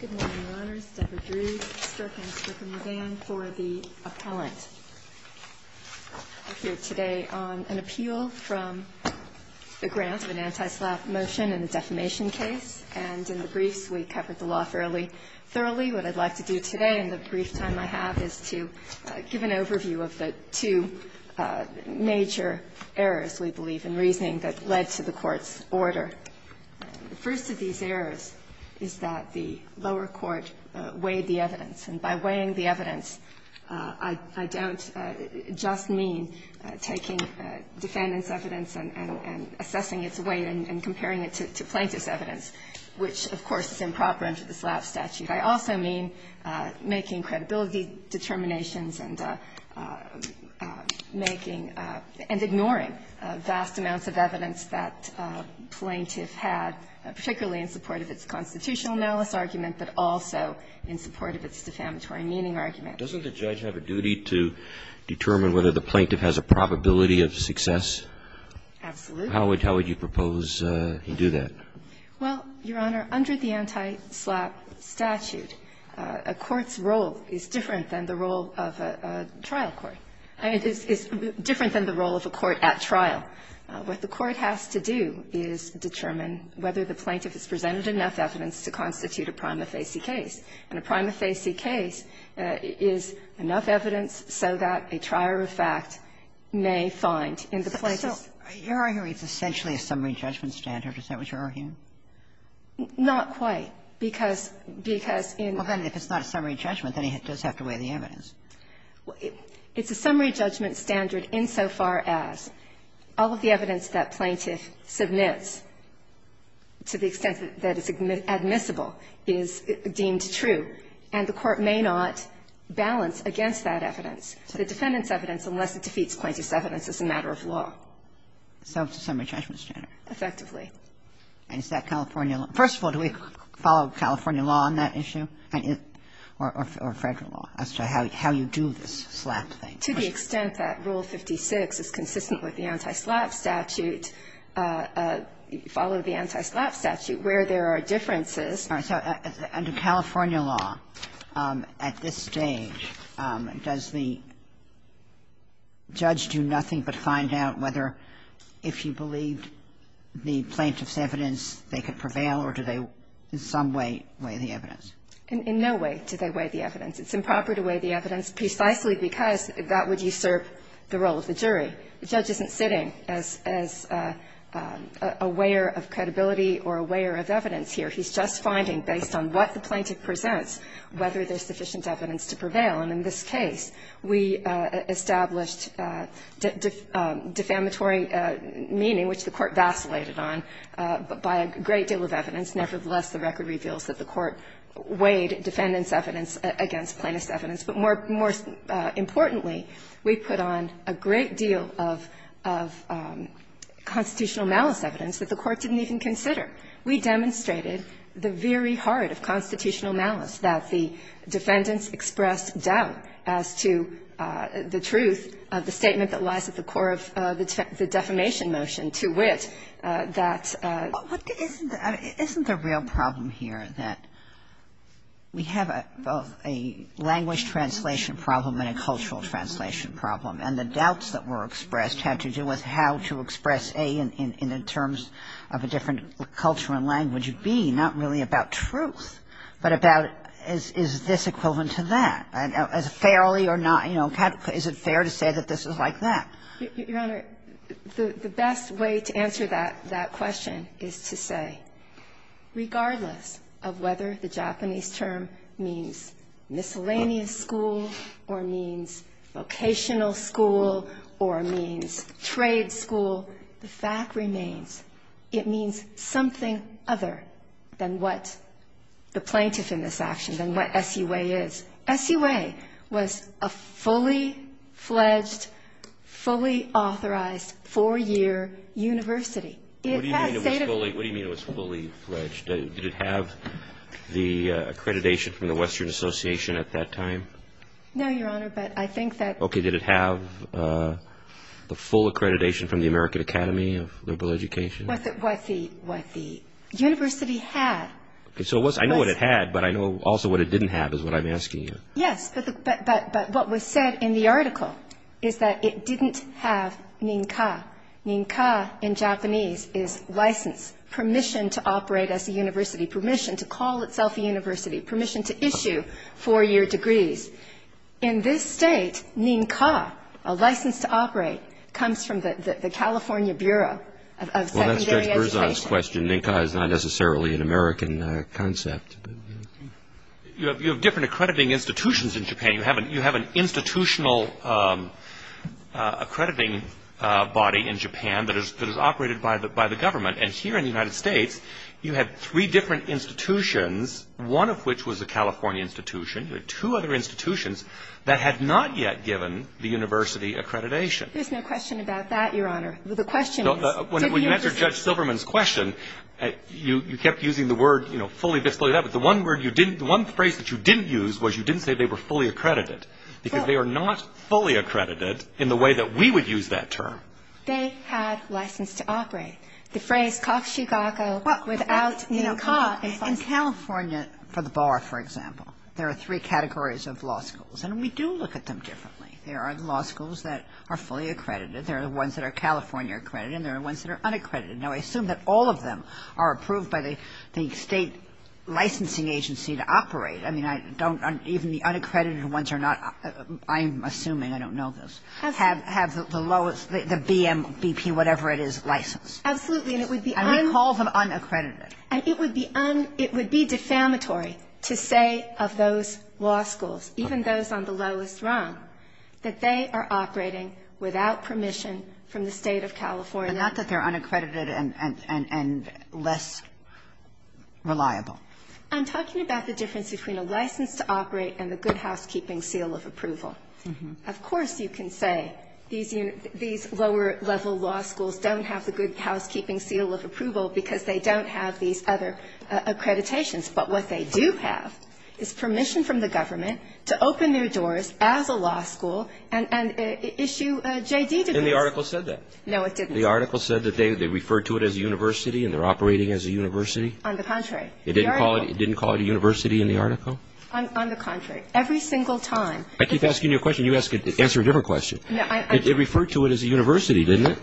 Good morning, Your Honors. Deborah Drew, Stirkham, Stirkham-Mulvane, for the appellant. I'm here today on an appeal from the grounds of an anti-SLAPP motion in the defamation case. And in the briefs, we covered the law fairly thoroughly. What I'd like to do today in the brief time I have is to give an overview of the two major errors, we believe, in reasoning that led to the Court's order. The first of these errors is that the lower court weighed the evidence. And by weighing the evidence, I don't just mean taking defendant's evidence and assessing its weight and comparing it to plaintiff's evidence, which, of course, is improper under the SLAPP statute. I also mean making credibility determinations and making and ignoring vast amounts of evidence that plaintiff had, particularly in support of its constitutional malice argument, but also in support of its defamatory meaning argument. Doesn't the judge have a duty to determine whether the plaintiff has a probability of success? Absolutely. How would you propose he do that? Well, Your Honor, under the anti-SLAPP statute, a court's role is different than the role of a trial court. I mean, it's different than the role of a court at trial. What the court has to do is determine whether the plaintiff has presented enough evidence to constitute a prima facie case. And a prima facie case is enough evidence so that a trier of fact may find in the plaintiff's case. So your argument is essentially a summary judgment standard. Is that what you're arguing? Not quite, because you know. Well, then, if it's not a summary judgment, then he does have to weigh the evidence. It's a summary judgment standard insofar as all of the evidence that plaintiff submits, to the extent that it's admissible, is deemed true, and the court may not balance against that evidence, the defendant's evidence, unless it defeats plaintiff's confidence as a matter of law. So it's a summary judgment standard. Effectively. And is that California law? First of all, do we follow California law on that issue, or Federal law, as to how you do this SLAPP thing? To the extent that Rule 56 is consistent with the anti-SLAPP statute, follow the anti-SLAPP statute, where there are differences. All right. So under California law, at this stage, does the judge do nothing but find out whether if he believed the plaintiff's evidence, they could prevail, or do they in some way weigh the evidence? In no way do they weigh the evidence. It's improper to weigh the evidence, precisely because that would usurp the role of the jury. The judge isn't sitting as a weigher of credibility or a weigher of evidence here. He's just finding, based on what the plaintiff presents, whether there's sufficient evidence to prevail. And in this case, we established defamatory meaning, which the Court vacillated on, by a great deal of evidence. Nevertheless, the record reveals that the Court weighed defendant's evidence against plaintiff's evidence. But more importantly, we put on a great deal of constitutional malice evidence that the Court didn't even consider. We demonstrated the very heart of constitutional malice, that the defendants expressed doubt as to the truth of the statement that lies at the core of the defamation motion, to wit, that the plaintiff's evidence was not sufficient. And that's what we're trying to do here. We have a language translation problem and a cultural translation problem. And the doubts that were expressed had to do with how to express, A, in terms of a different culture and language, B, not really about truth, but about is this equivalent to that? Fairly or not, you know, is it fair to say that this is like that? Your Honor, the best way to answer that question is to say, regardless of whether the Japanese term means miscellaneous school or means vocational school or means trade school, the fact remains it means something other than what the plaintiff in this action, than what SUA is. SUA was a fully-fledged, fully-authorized, four-year university. It had state of the art law. What do you mean it was fully-fledged? Did it have the accreditation from the Western Association at that time? Full accreditation from the American Academy of Liberal Education? What the university had. So I know what it had, but I know also what it didn't have is what I'm asking you. Yes, but what was said in the article is that it didn't have nin-ka. Nin-ka in Japanese is license, permission to operate as a university, permission to call itself a university, permission to issue four-year degrees. In this state, nin-ka, a license to operate, comes from the California Bureau of Secondary Well, that's Judge Berzon's question. Nin-ka is not necessarily an American concept. You have different accrediting institutions in Japan. You have an institutional accrediting body in Japan that is operated by the government. And here in the United States, you had three different institutions, one of which was a that had not yet given the university accreditation. There's no question about that, Your Honor. The question is, did the university... When you answered Judge Silverman's question, you kept using the word, you know, fully displayed that. But the one phrase that you didn't use was you didn't say they were fully accredited because they are not fully accredited in the way that we would use that term. They had license to operate. The phrase kakushikako, without nin-ka. In California, for the bar, for example, there are three categories of law schools. And we do look at them differently. There are law schools that are fully accredited. There are ones that are California accredited, and there are ones that are unaccredited. Now, I assume that all of them are approved by the state licensing agency to operate. I mean, I don't even the unaccredited ones are not, I'm assuming, I don't know this, have the lowest, the BM, BP, whatever it is, license. Absolutely. And it would be un... And we call them unaccredited. And it would be un... It would be defamatory to say of those law schools, even those on the lowest rung, that they are operating without permission from the State of California. But not that they're unaccredited and less reliable. I'm talking about the difference between a license to operate and the good housekeeping seal of approval. Of course you can say these lower-level law schools don't have the good housekeeping seal of approval because they don't have these other accreditations. But what they do have is permission from the government to open their doors as a law school and issue JD degrees. And the article said that. No, it didn't. The article said that they referred to it as a university and they're operating as a university? On the contrary. It didn't call it a university in the article? On the contrary. Every single time. I keep asking you a question, you answer a different question. No, I... It referred to it as a university, didn't it?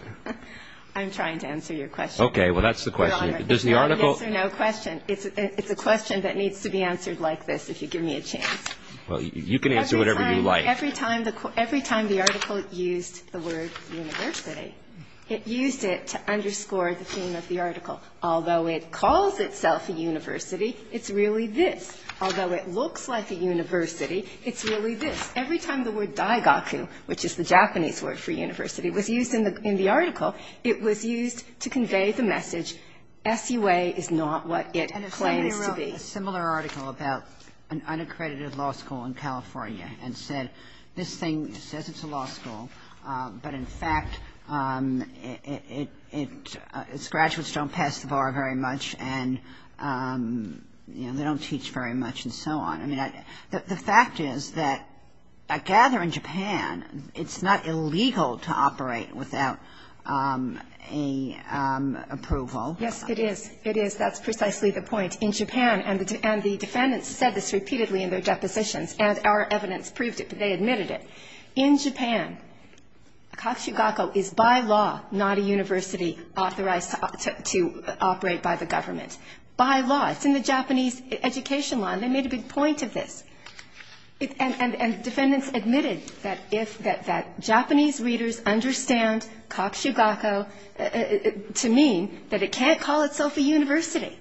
I'm trying to answer your question. Okay. Well, that's the question. Does the article... No, I answer no question. It's a question that needs to be answered like this if you give me a chance. Well, you can answer whatever you like. Every time the article used the word university, it used it to underscore the theme of the article. Although it calls itself a university, it's really this. Although it looks like a university, it's really this. Every time the word daigaku, which is the Japanese word for university, was used in the article, it was used to convey the message, SUA is not what it claims to be. And a similar article about an unaccredited law school in California and said, this thing says it's a law school, but in fact, its graduates don't pass the bar very much and, you know, they don't teach very much and so on. I mean, the fact is that I gather in Japan, it's not illegal to operate without approval. Yes, it is. It is. That's precisely the point. In Japan, and the defendants said this repeatedly in their depositions, and our evidence proved it, but they admitted it. In Japan, kakushugaku is by law not a university authorized to operate by the government. By law. It's in the Japanese education law. And they made a big point of this. And defendants admitted that Japanese readers understand kakushugaku to mean that it can't call itself a university.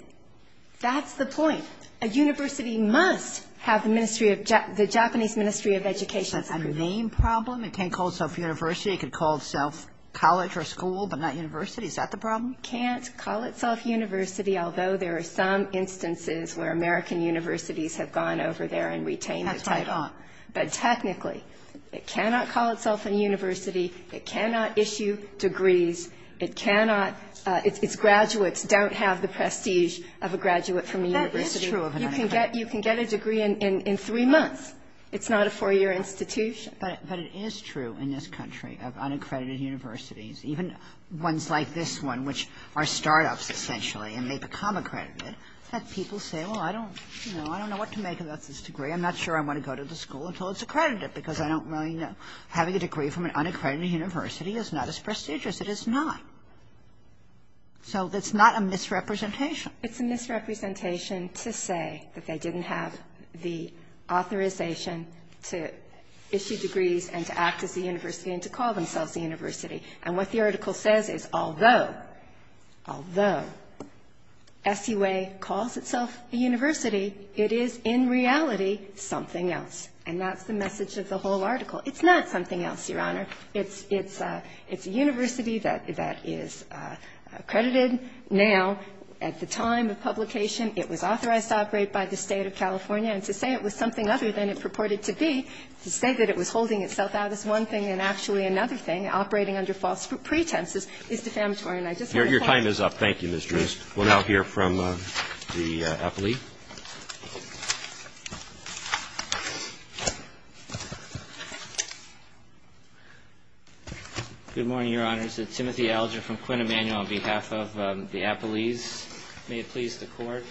That's the point. A university must have the Japanese Ministry of Education. Is that a name problem? It can't call itself a university. It could call itself college or school, but not university. Is that the problem? It can't call itself university, although there are some instances where American universities have gone over there and retained the title. But technically, it cannot call itself a university. It cannot issue degrees. It cannot – its graduates don't have the prestige of a graduate from a university. That is true of an unaccredited university. You can get a degree in three months. It's not a four-year institution. But it is true in this country of unaccredited universities, even ones like this one, which are start-ups, essentially, and they become accredited, that people say, well, I don't know what to make of this degree. I'm not sure I want to go to this school until it's accredited, because I don't really know. Having a degree from an unaccredited university is not as prestigious. It is not. So it's not a misrepresentation. It's a misrepresentation to say that they didn't have the authorization to issue degrees and to act as a university and to call themselves a university. And what the article says is, although – although – SUA calls itself a university, it is, in reality, something else. And that's the message of the whole article. It's not something else, Your Honor. It's a university that is accredited now. At the time of publication, it was authorized to operate by the State of California. And to say it was something other than it purported to be, to say that it was holding itself out is one thing. And actually, another thing, operating under false pretenses, is defamatory. And I just want to say that. Your time is up. Thank you, Ms. Drewes. We'll now hear from the appellee. Good morning, Your Honors. It's Timothy Alger from Quinn Emanuel on behalf of the appellees. May it please the Court.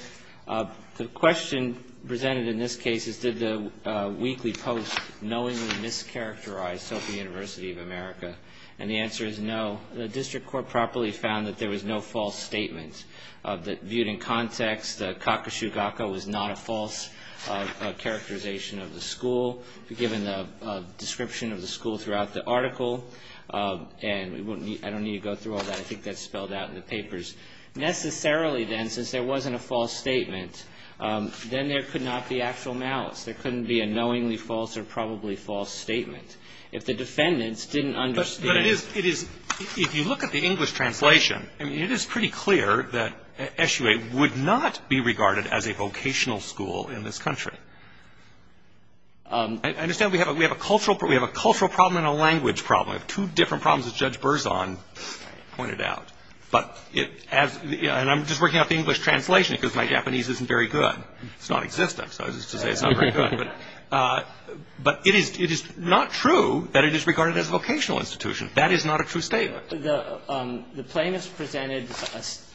The question presented in this case is, did the weekly post knowingly mischaracterize Sophie University of America? And the answer is no. The district court properly found that there was no false statement. Viewed in context, Kakashiwaka was not a false characterization of the school, given the description of the school throughout the article. And I don't need to go through all that. I think that's spelled out in the papers. Necessarily, then, since there wasn't a false statement, then there could not be actual malice. There couldn't be a knowingly false or probably false statement. If the defendants didn't understand. But it is, it is, if you look at the English translation, I mean, it is pretty clear that SUA would not be regarded as a vocational school in this country. I understand we have a cultural, we have a cultural problem and a language problem, two different problems that Judge Berzon pointed out. But it has, and I'm just working out the English translation because my Japanese isn't very good. It's non-existent, so I was just going to say it's not very good. But it is not true that it is regarded as a vocational institution. That is not a true statement. The plaintiffs presented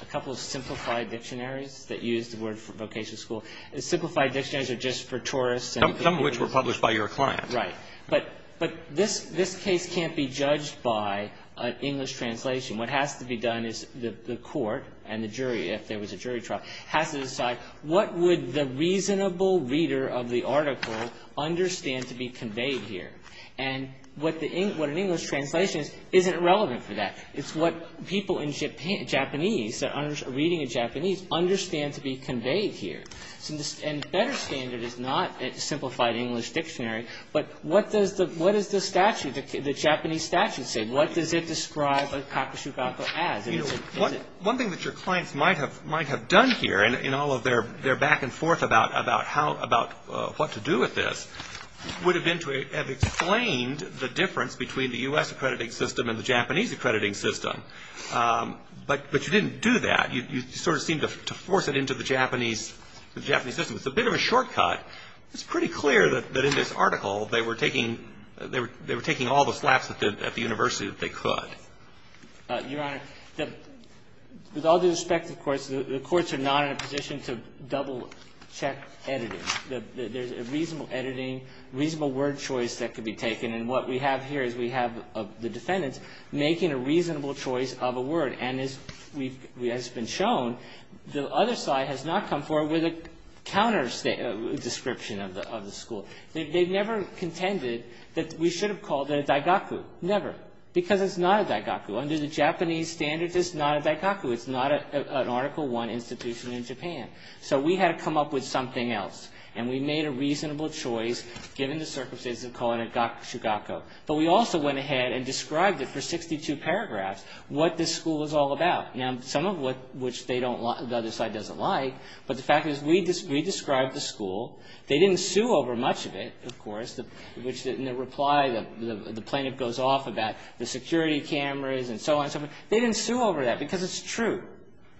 a couple of simplified dictionaries that used the word vocational school. Simplified dictionaries are just for tourists. Some of which were published by your client. Right. But this case can't be judged by an English translation. What has to be done is the court and the jury, if there was a jury trial, has to decide what would the reasonable reader of the article understand to be conveyed here. And what the, what an English translation is, isn't relevant for that. It's what people in Japan, Japanese, that are reading in Japanese, understand to be conveyed here. And the better standard is not a simplified English dictionary, but what does the, what does the statute, the Japanese statute say? What does it describe Kakashi Gakko as? One thing that your clients might have done here, in all of their back and forth about how, about what to do with this, would have been to have explained the difference between the U.S. accrediting system and the Japanese accrediting system. But you didn't do that. You sort of seemed to force it into the Japanese system. It's a bit of a shortcut. It's pretty clear that in this article they were taking, they were taking all the slaps at the university that they could. Your Honor, with all due respect, of course, the courts are not in a position to double-check editing. There's a reasonable editing, reasonable word choice that could be taken. And what we have here is we have the defendants making a reasonable choice of a word. And as we've, as has been shown, the other side has not come forward with a counter description of the school. They've never contended that we should have called it a daigaku. Never. Because it's not a daigaku. Under the Japanese standards, it's not a daigaku. It's not an Article I institution in Japan. So we had to come up with something else. And we made a reasonable choice, given the circumstances, to call it a shugaku. But we also went ahead and described it for 62 paragraphs, what this school was all about. Now, some of which the other side doesn't like, but the fact is we described the school. They didn't sue over much of it, of course, which in their reply the plaintiff goes off about the security cameras and so on and so forth. They didn't sue over that because it's true.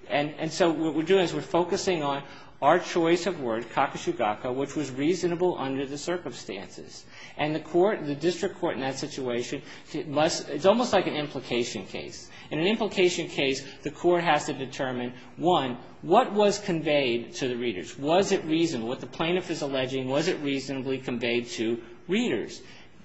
And so what we're doing is we're focusing on our choice of word, kakushugaku, which was reasonable under the circumstances. And the court, the district court in that situation, must – it's almost like an implication case. In an implication case, the court has to determine, one, what was conveyed to the readers. Was it reasonable? What the plaintiff is alleging, was it reasonably conveyed to readers?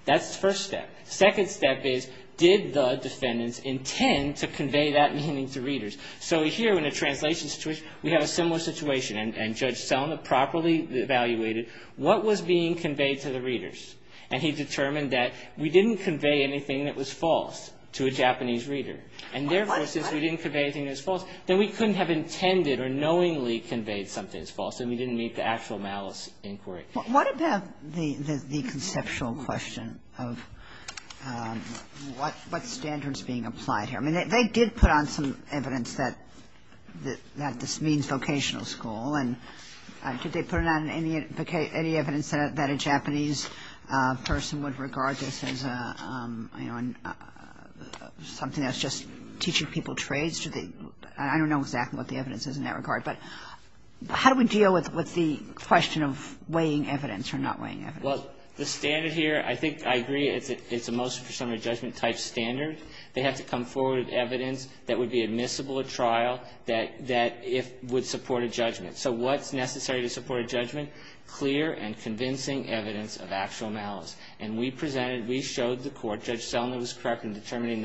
That's the first step. The second step is, did the defendants intend to convey that meaning to readers? So here, in a translation situation, we have a similar situation. And Judge Selma properly evaluated what was being conveyed to the readers. And he determined that we didn't convey anything that was false to a Japanese reader. And therefore, since we didn't convey anything that was false, then we couldn't have intended or knowingly conveyed something that was false. Then we didn't meet the actual malice inquiry. What about the conceptual question of what standard is being applied here? I mean, they did put on some evidence that this means vocational school. And did they put on any evidence that a Japanese person would regard this as something that's just teaching people trades? I don't know exactly what the evidence is in that regard. But how do we deal with the question of weighing evidence or not weighing evidence? Well, the standard here, I think I agree it's a motion for summary judgment type standard. They have to come forward with evidence that would be admissible at trial that would support a judgment. So what's necessary to support a judgment? Clear and convincing evidence of actual malice. And we presented, we showed the court, Judge Selma was correct in determining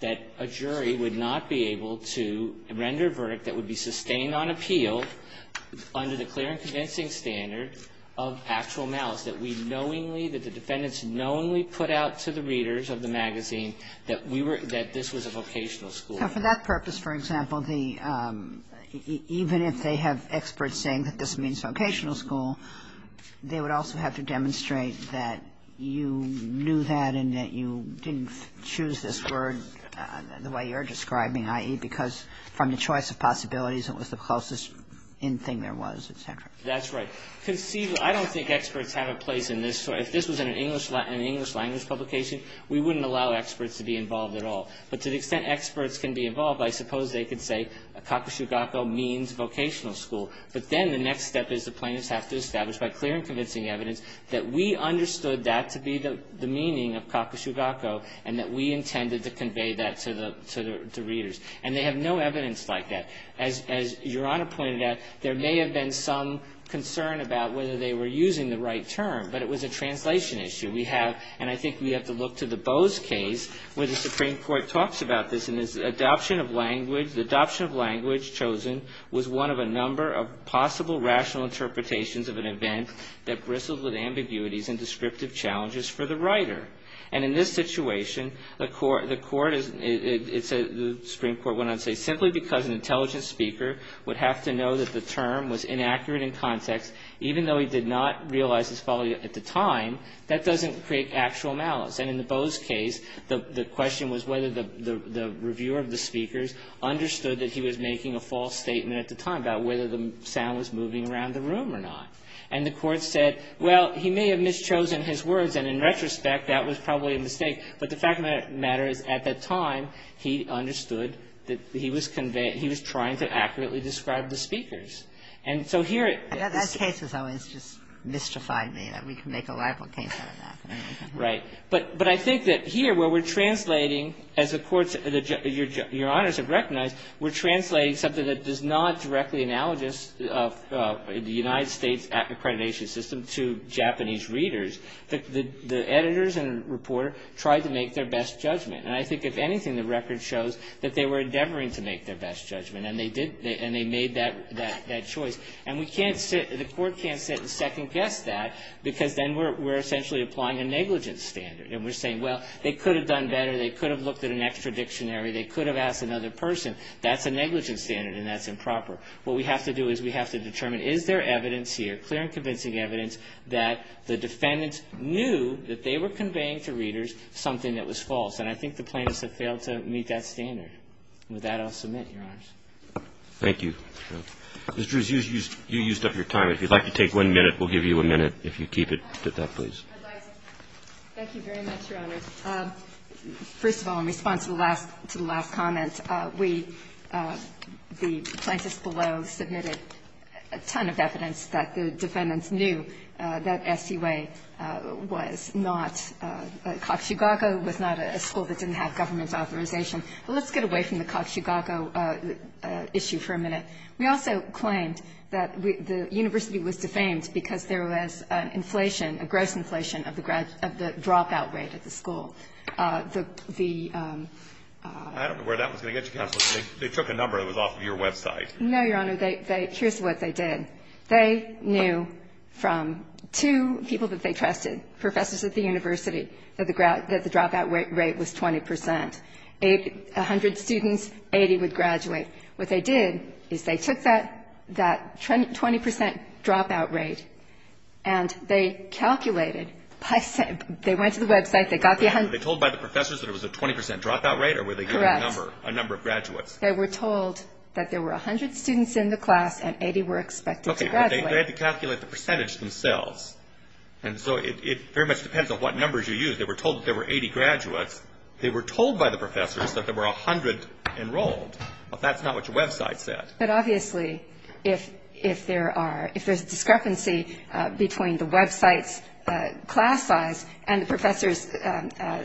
that a jury would not be able to render a verdict that would be sustained on appeal under the clear and convincing standard of actual malice. That we knowingly, that the defendants knowingly put out to the readers of the magazine that we were, that this was a vocational school. Now, for that purpose, for example, the, even if they have experts saying that this means vocational school, they would also have to demonstrate that you knew that you didn't choose this word the way you're describing, i.e., because from the choice of possibilities, it was the closest in thing there was, et cetera. That's right. Because, see, I don't think experts have a place in this. So if this was in an English language publication, we wouldn't allow experts to be involved at all. But to the extent experts can be involved, I suppose they could say a cacosugaco means vocational school. But then the next step is the plaintiffs have to establish by clear and convincing evidence that we understood that to be the meaning of cacosugaco, and that we intended to convey that to the readers. And they have no evidence like that. As Your Honor pointed out, there may have been some concern about whether they were using the right term, but it was a translation issue. We have, and I think we have to look to the Bowes case where the Supreme Court talks about this, and it's adoption of language, the adoption of language chosen was one of a number of possible rational interpretations of an event that bristled with ambiguities and descriptive challenges for the writer. And in this situation, the Supreme Court went on to say simply because an intelligent speaker would have to know that the term was inaccurate in context, even though he did not realize his folly at the time, that doesn't create actual malice. And in the Bowes case, the question was whether the reviewer of the speakers understood that he was making a false statement at the time about whether the sound was moving around the room or not. And the court said, well, he may have mischosen his words, and in retrospect, that was probably a mistake. But the fact of the matter is, at that time, he understood that he was conveying he was trying to accurately describe the speakers. And so here it is. Ginsburg. And that case has always just mystified me, that we could make a libel case out of that. Kagan. Right. But I think that here where we're translating, as the courts, Your Honors have recognized, we're translating something that does not directly analogous of the United States accreditation system to Japanese readers. The editors and reporter tried to make their best judgment. And I think, if anything, the record shows that they were endeavoring to make their best judgment. And they did, and they made that choice. And we can't sit, the court can't sit and second-guess that, because then we're essentially applying a negligence standard. And we're saying, well, they could have done better. They could have looked at an extra dictionary. They could have asked another person. That's a negligence standard, and that's improper. What we have to do is we have to determine, is there evidence here, clear and convincing evidence, that the defendants knew that they were conveying to readers something that was false. And I think the plaintiffs have failed to meet that standard. With that, I'll submit, Your Honors. Thank you. Ms. Drewes, you used up your time. If you'd like to take one minute, we'll give you a minute. If you keep it to that, please. Thank you very much, Your Honors. First of all, in response to the last comment, we, the plaintiffs below, submitted a ton of evidence that the defendants knew that SUA was not, Cox-Chicago was not a school that didn't have government authorization. But let's get away from the Cox-Chicago issue for a minute. We also claimed that the university was defamed because there was inflation, a gross inflation of the dropout rate at the school. The ---- I don't know where that was going to get you, Counsel. They took a number that was off of your website. No, Your Honor. Here's what they did. They knew from two people that they trusted, professors at the university, that the dropout rate was 20 percent. A hundred students, 80 would graduate. What they did is they took that 20 percent dropout rate and they calculated. They went to the website. They got the ---- Were they told by the professors that it was a 20 percent dropout rate? Correct. Or were they given a number, a number of graduates? They were told that there were 100 students in the class and 80 were expected to graduate. Okay, but they had to calculate the percentage themselves. And so it very much depends on what numbers you use. They were told that there were 80 graduates. They were told by the professors that there were 100 enrolled. Well, that's not what your website said. But obviously, if there are, if there's discrepancy between the website's class size and the professor's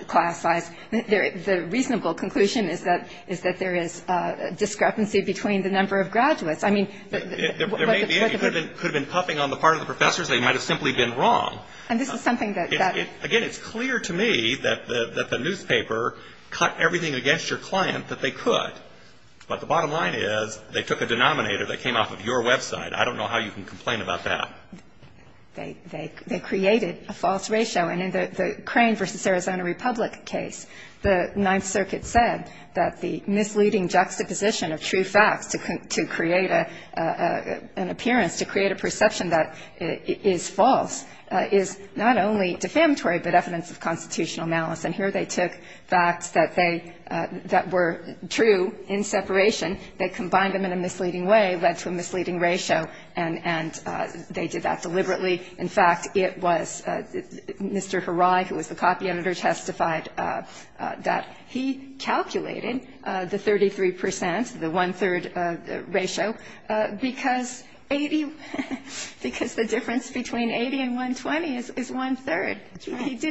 class size, the reasonable conclusion is that there is discrepancy between the number of graduates. I mean ---- There may be. It could have been puffing on the part of the professors. They might have simply been wrong. And this is something that ---- Again, it's clear to me that the newspaper cut everything against your client, that they could. But the bottom line is they took a denominator that came off of your website. I don't know how you can complain about that. They created a false ratio. And in the Crane v. Arizona Republic case, the Ninth Circuit said that the misleading juxtaposition of true facts to create an appearance, to create a perception that is false, is not only defamatory, but evidence of constitutional malice. And here they took facts that they, that were true in separation. They combined them in a misleading way, led to a misleading ratio. And they did that deliberately. In fact, it was Mr. Harai, who was the copy editor, testified that he calculated the 33%, the one-third ratio, because 80, because the difference between 80 and 120 is one-third. That's right.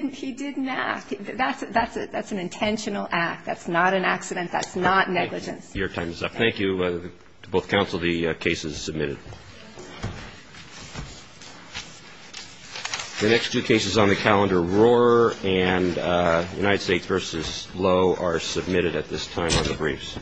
That's an intentional act. That's not an accident. That's not negligence. Your time is up. Thank you to both counsel. The case is submitted. The next two cases on the calendar, Rohrer and United States v. Lowe, are submitted at this time on the briefs.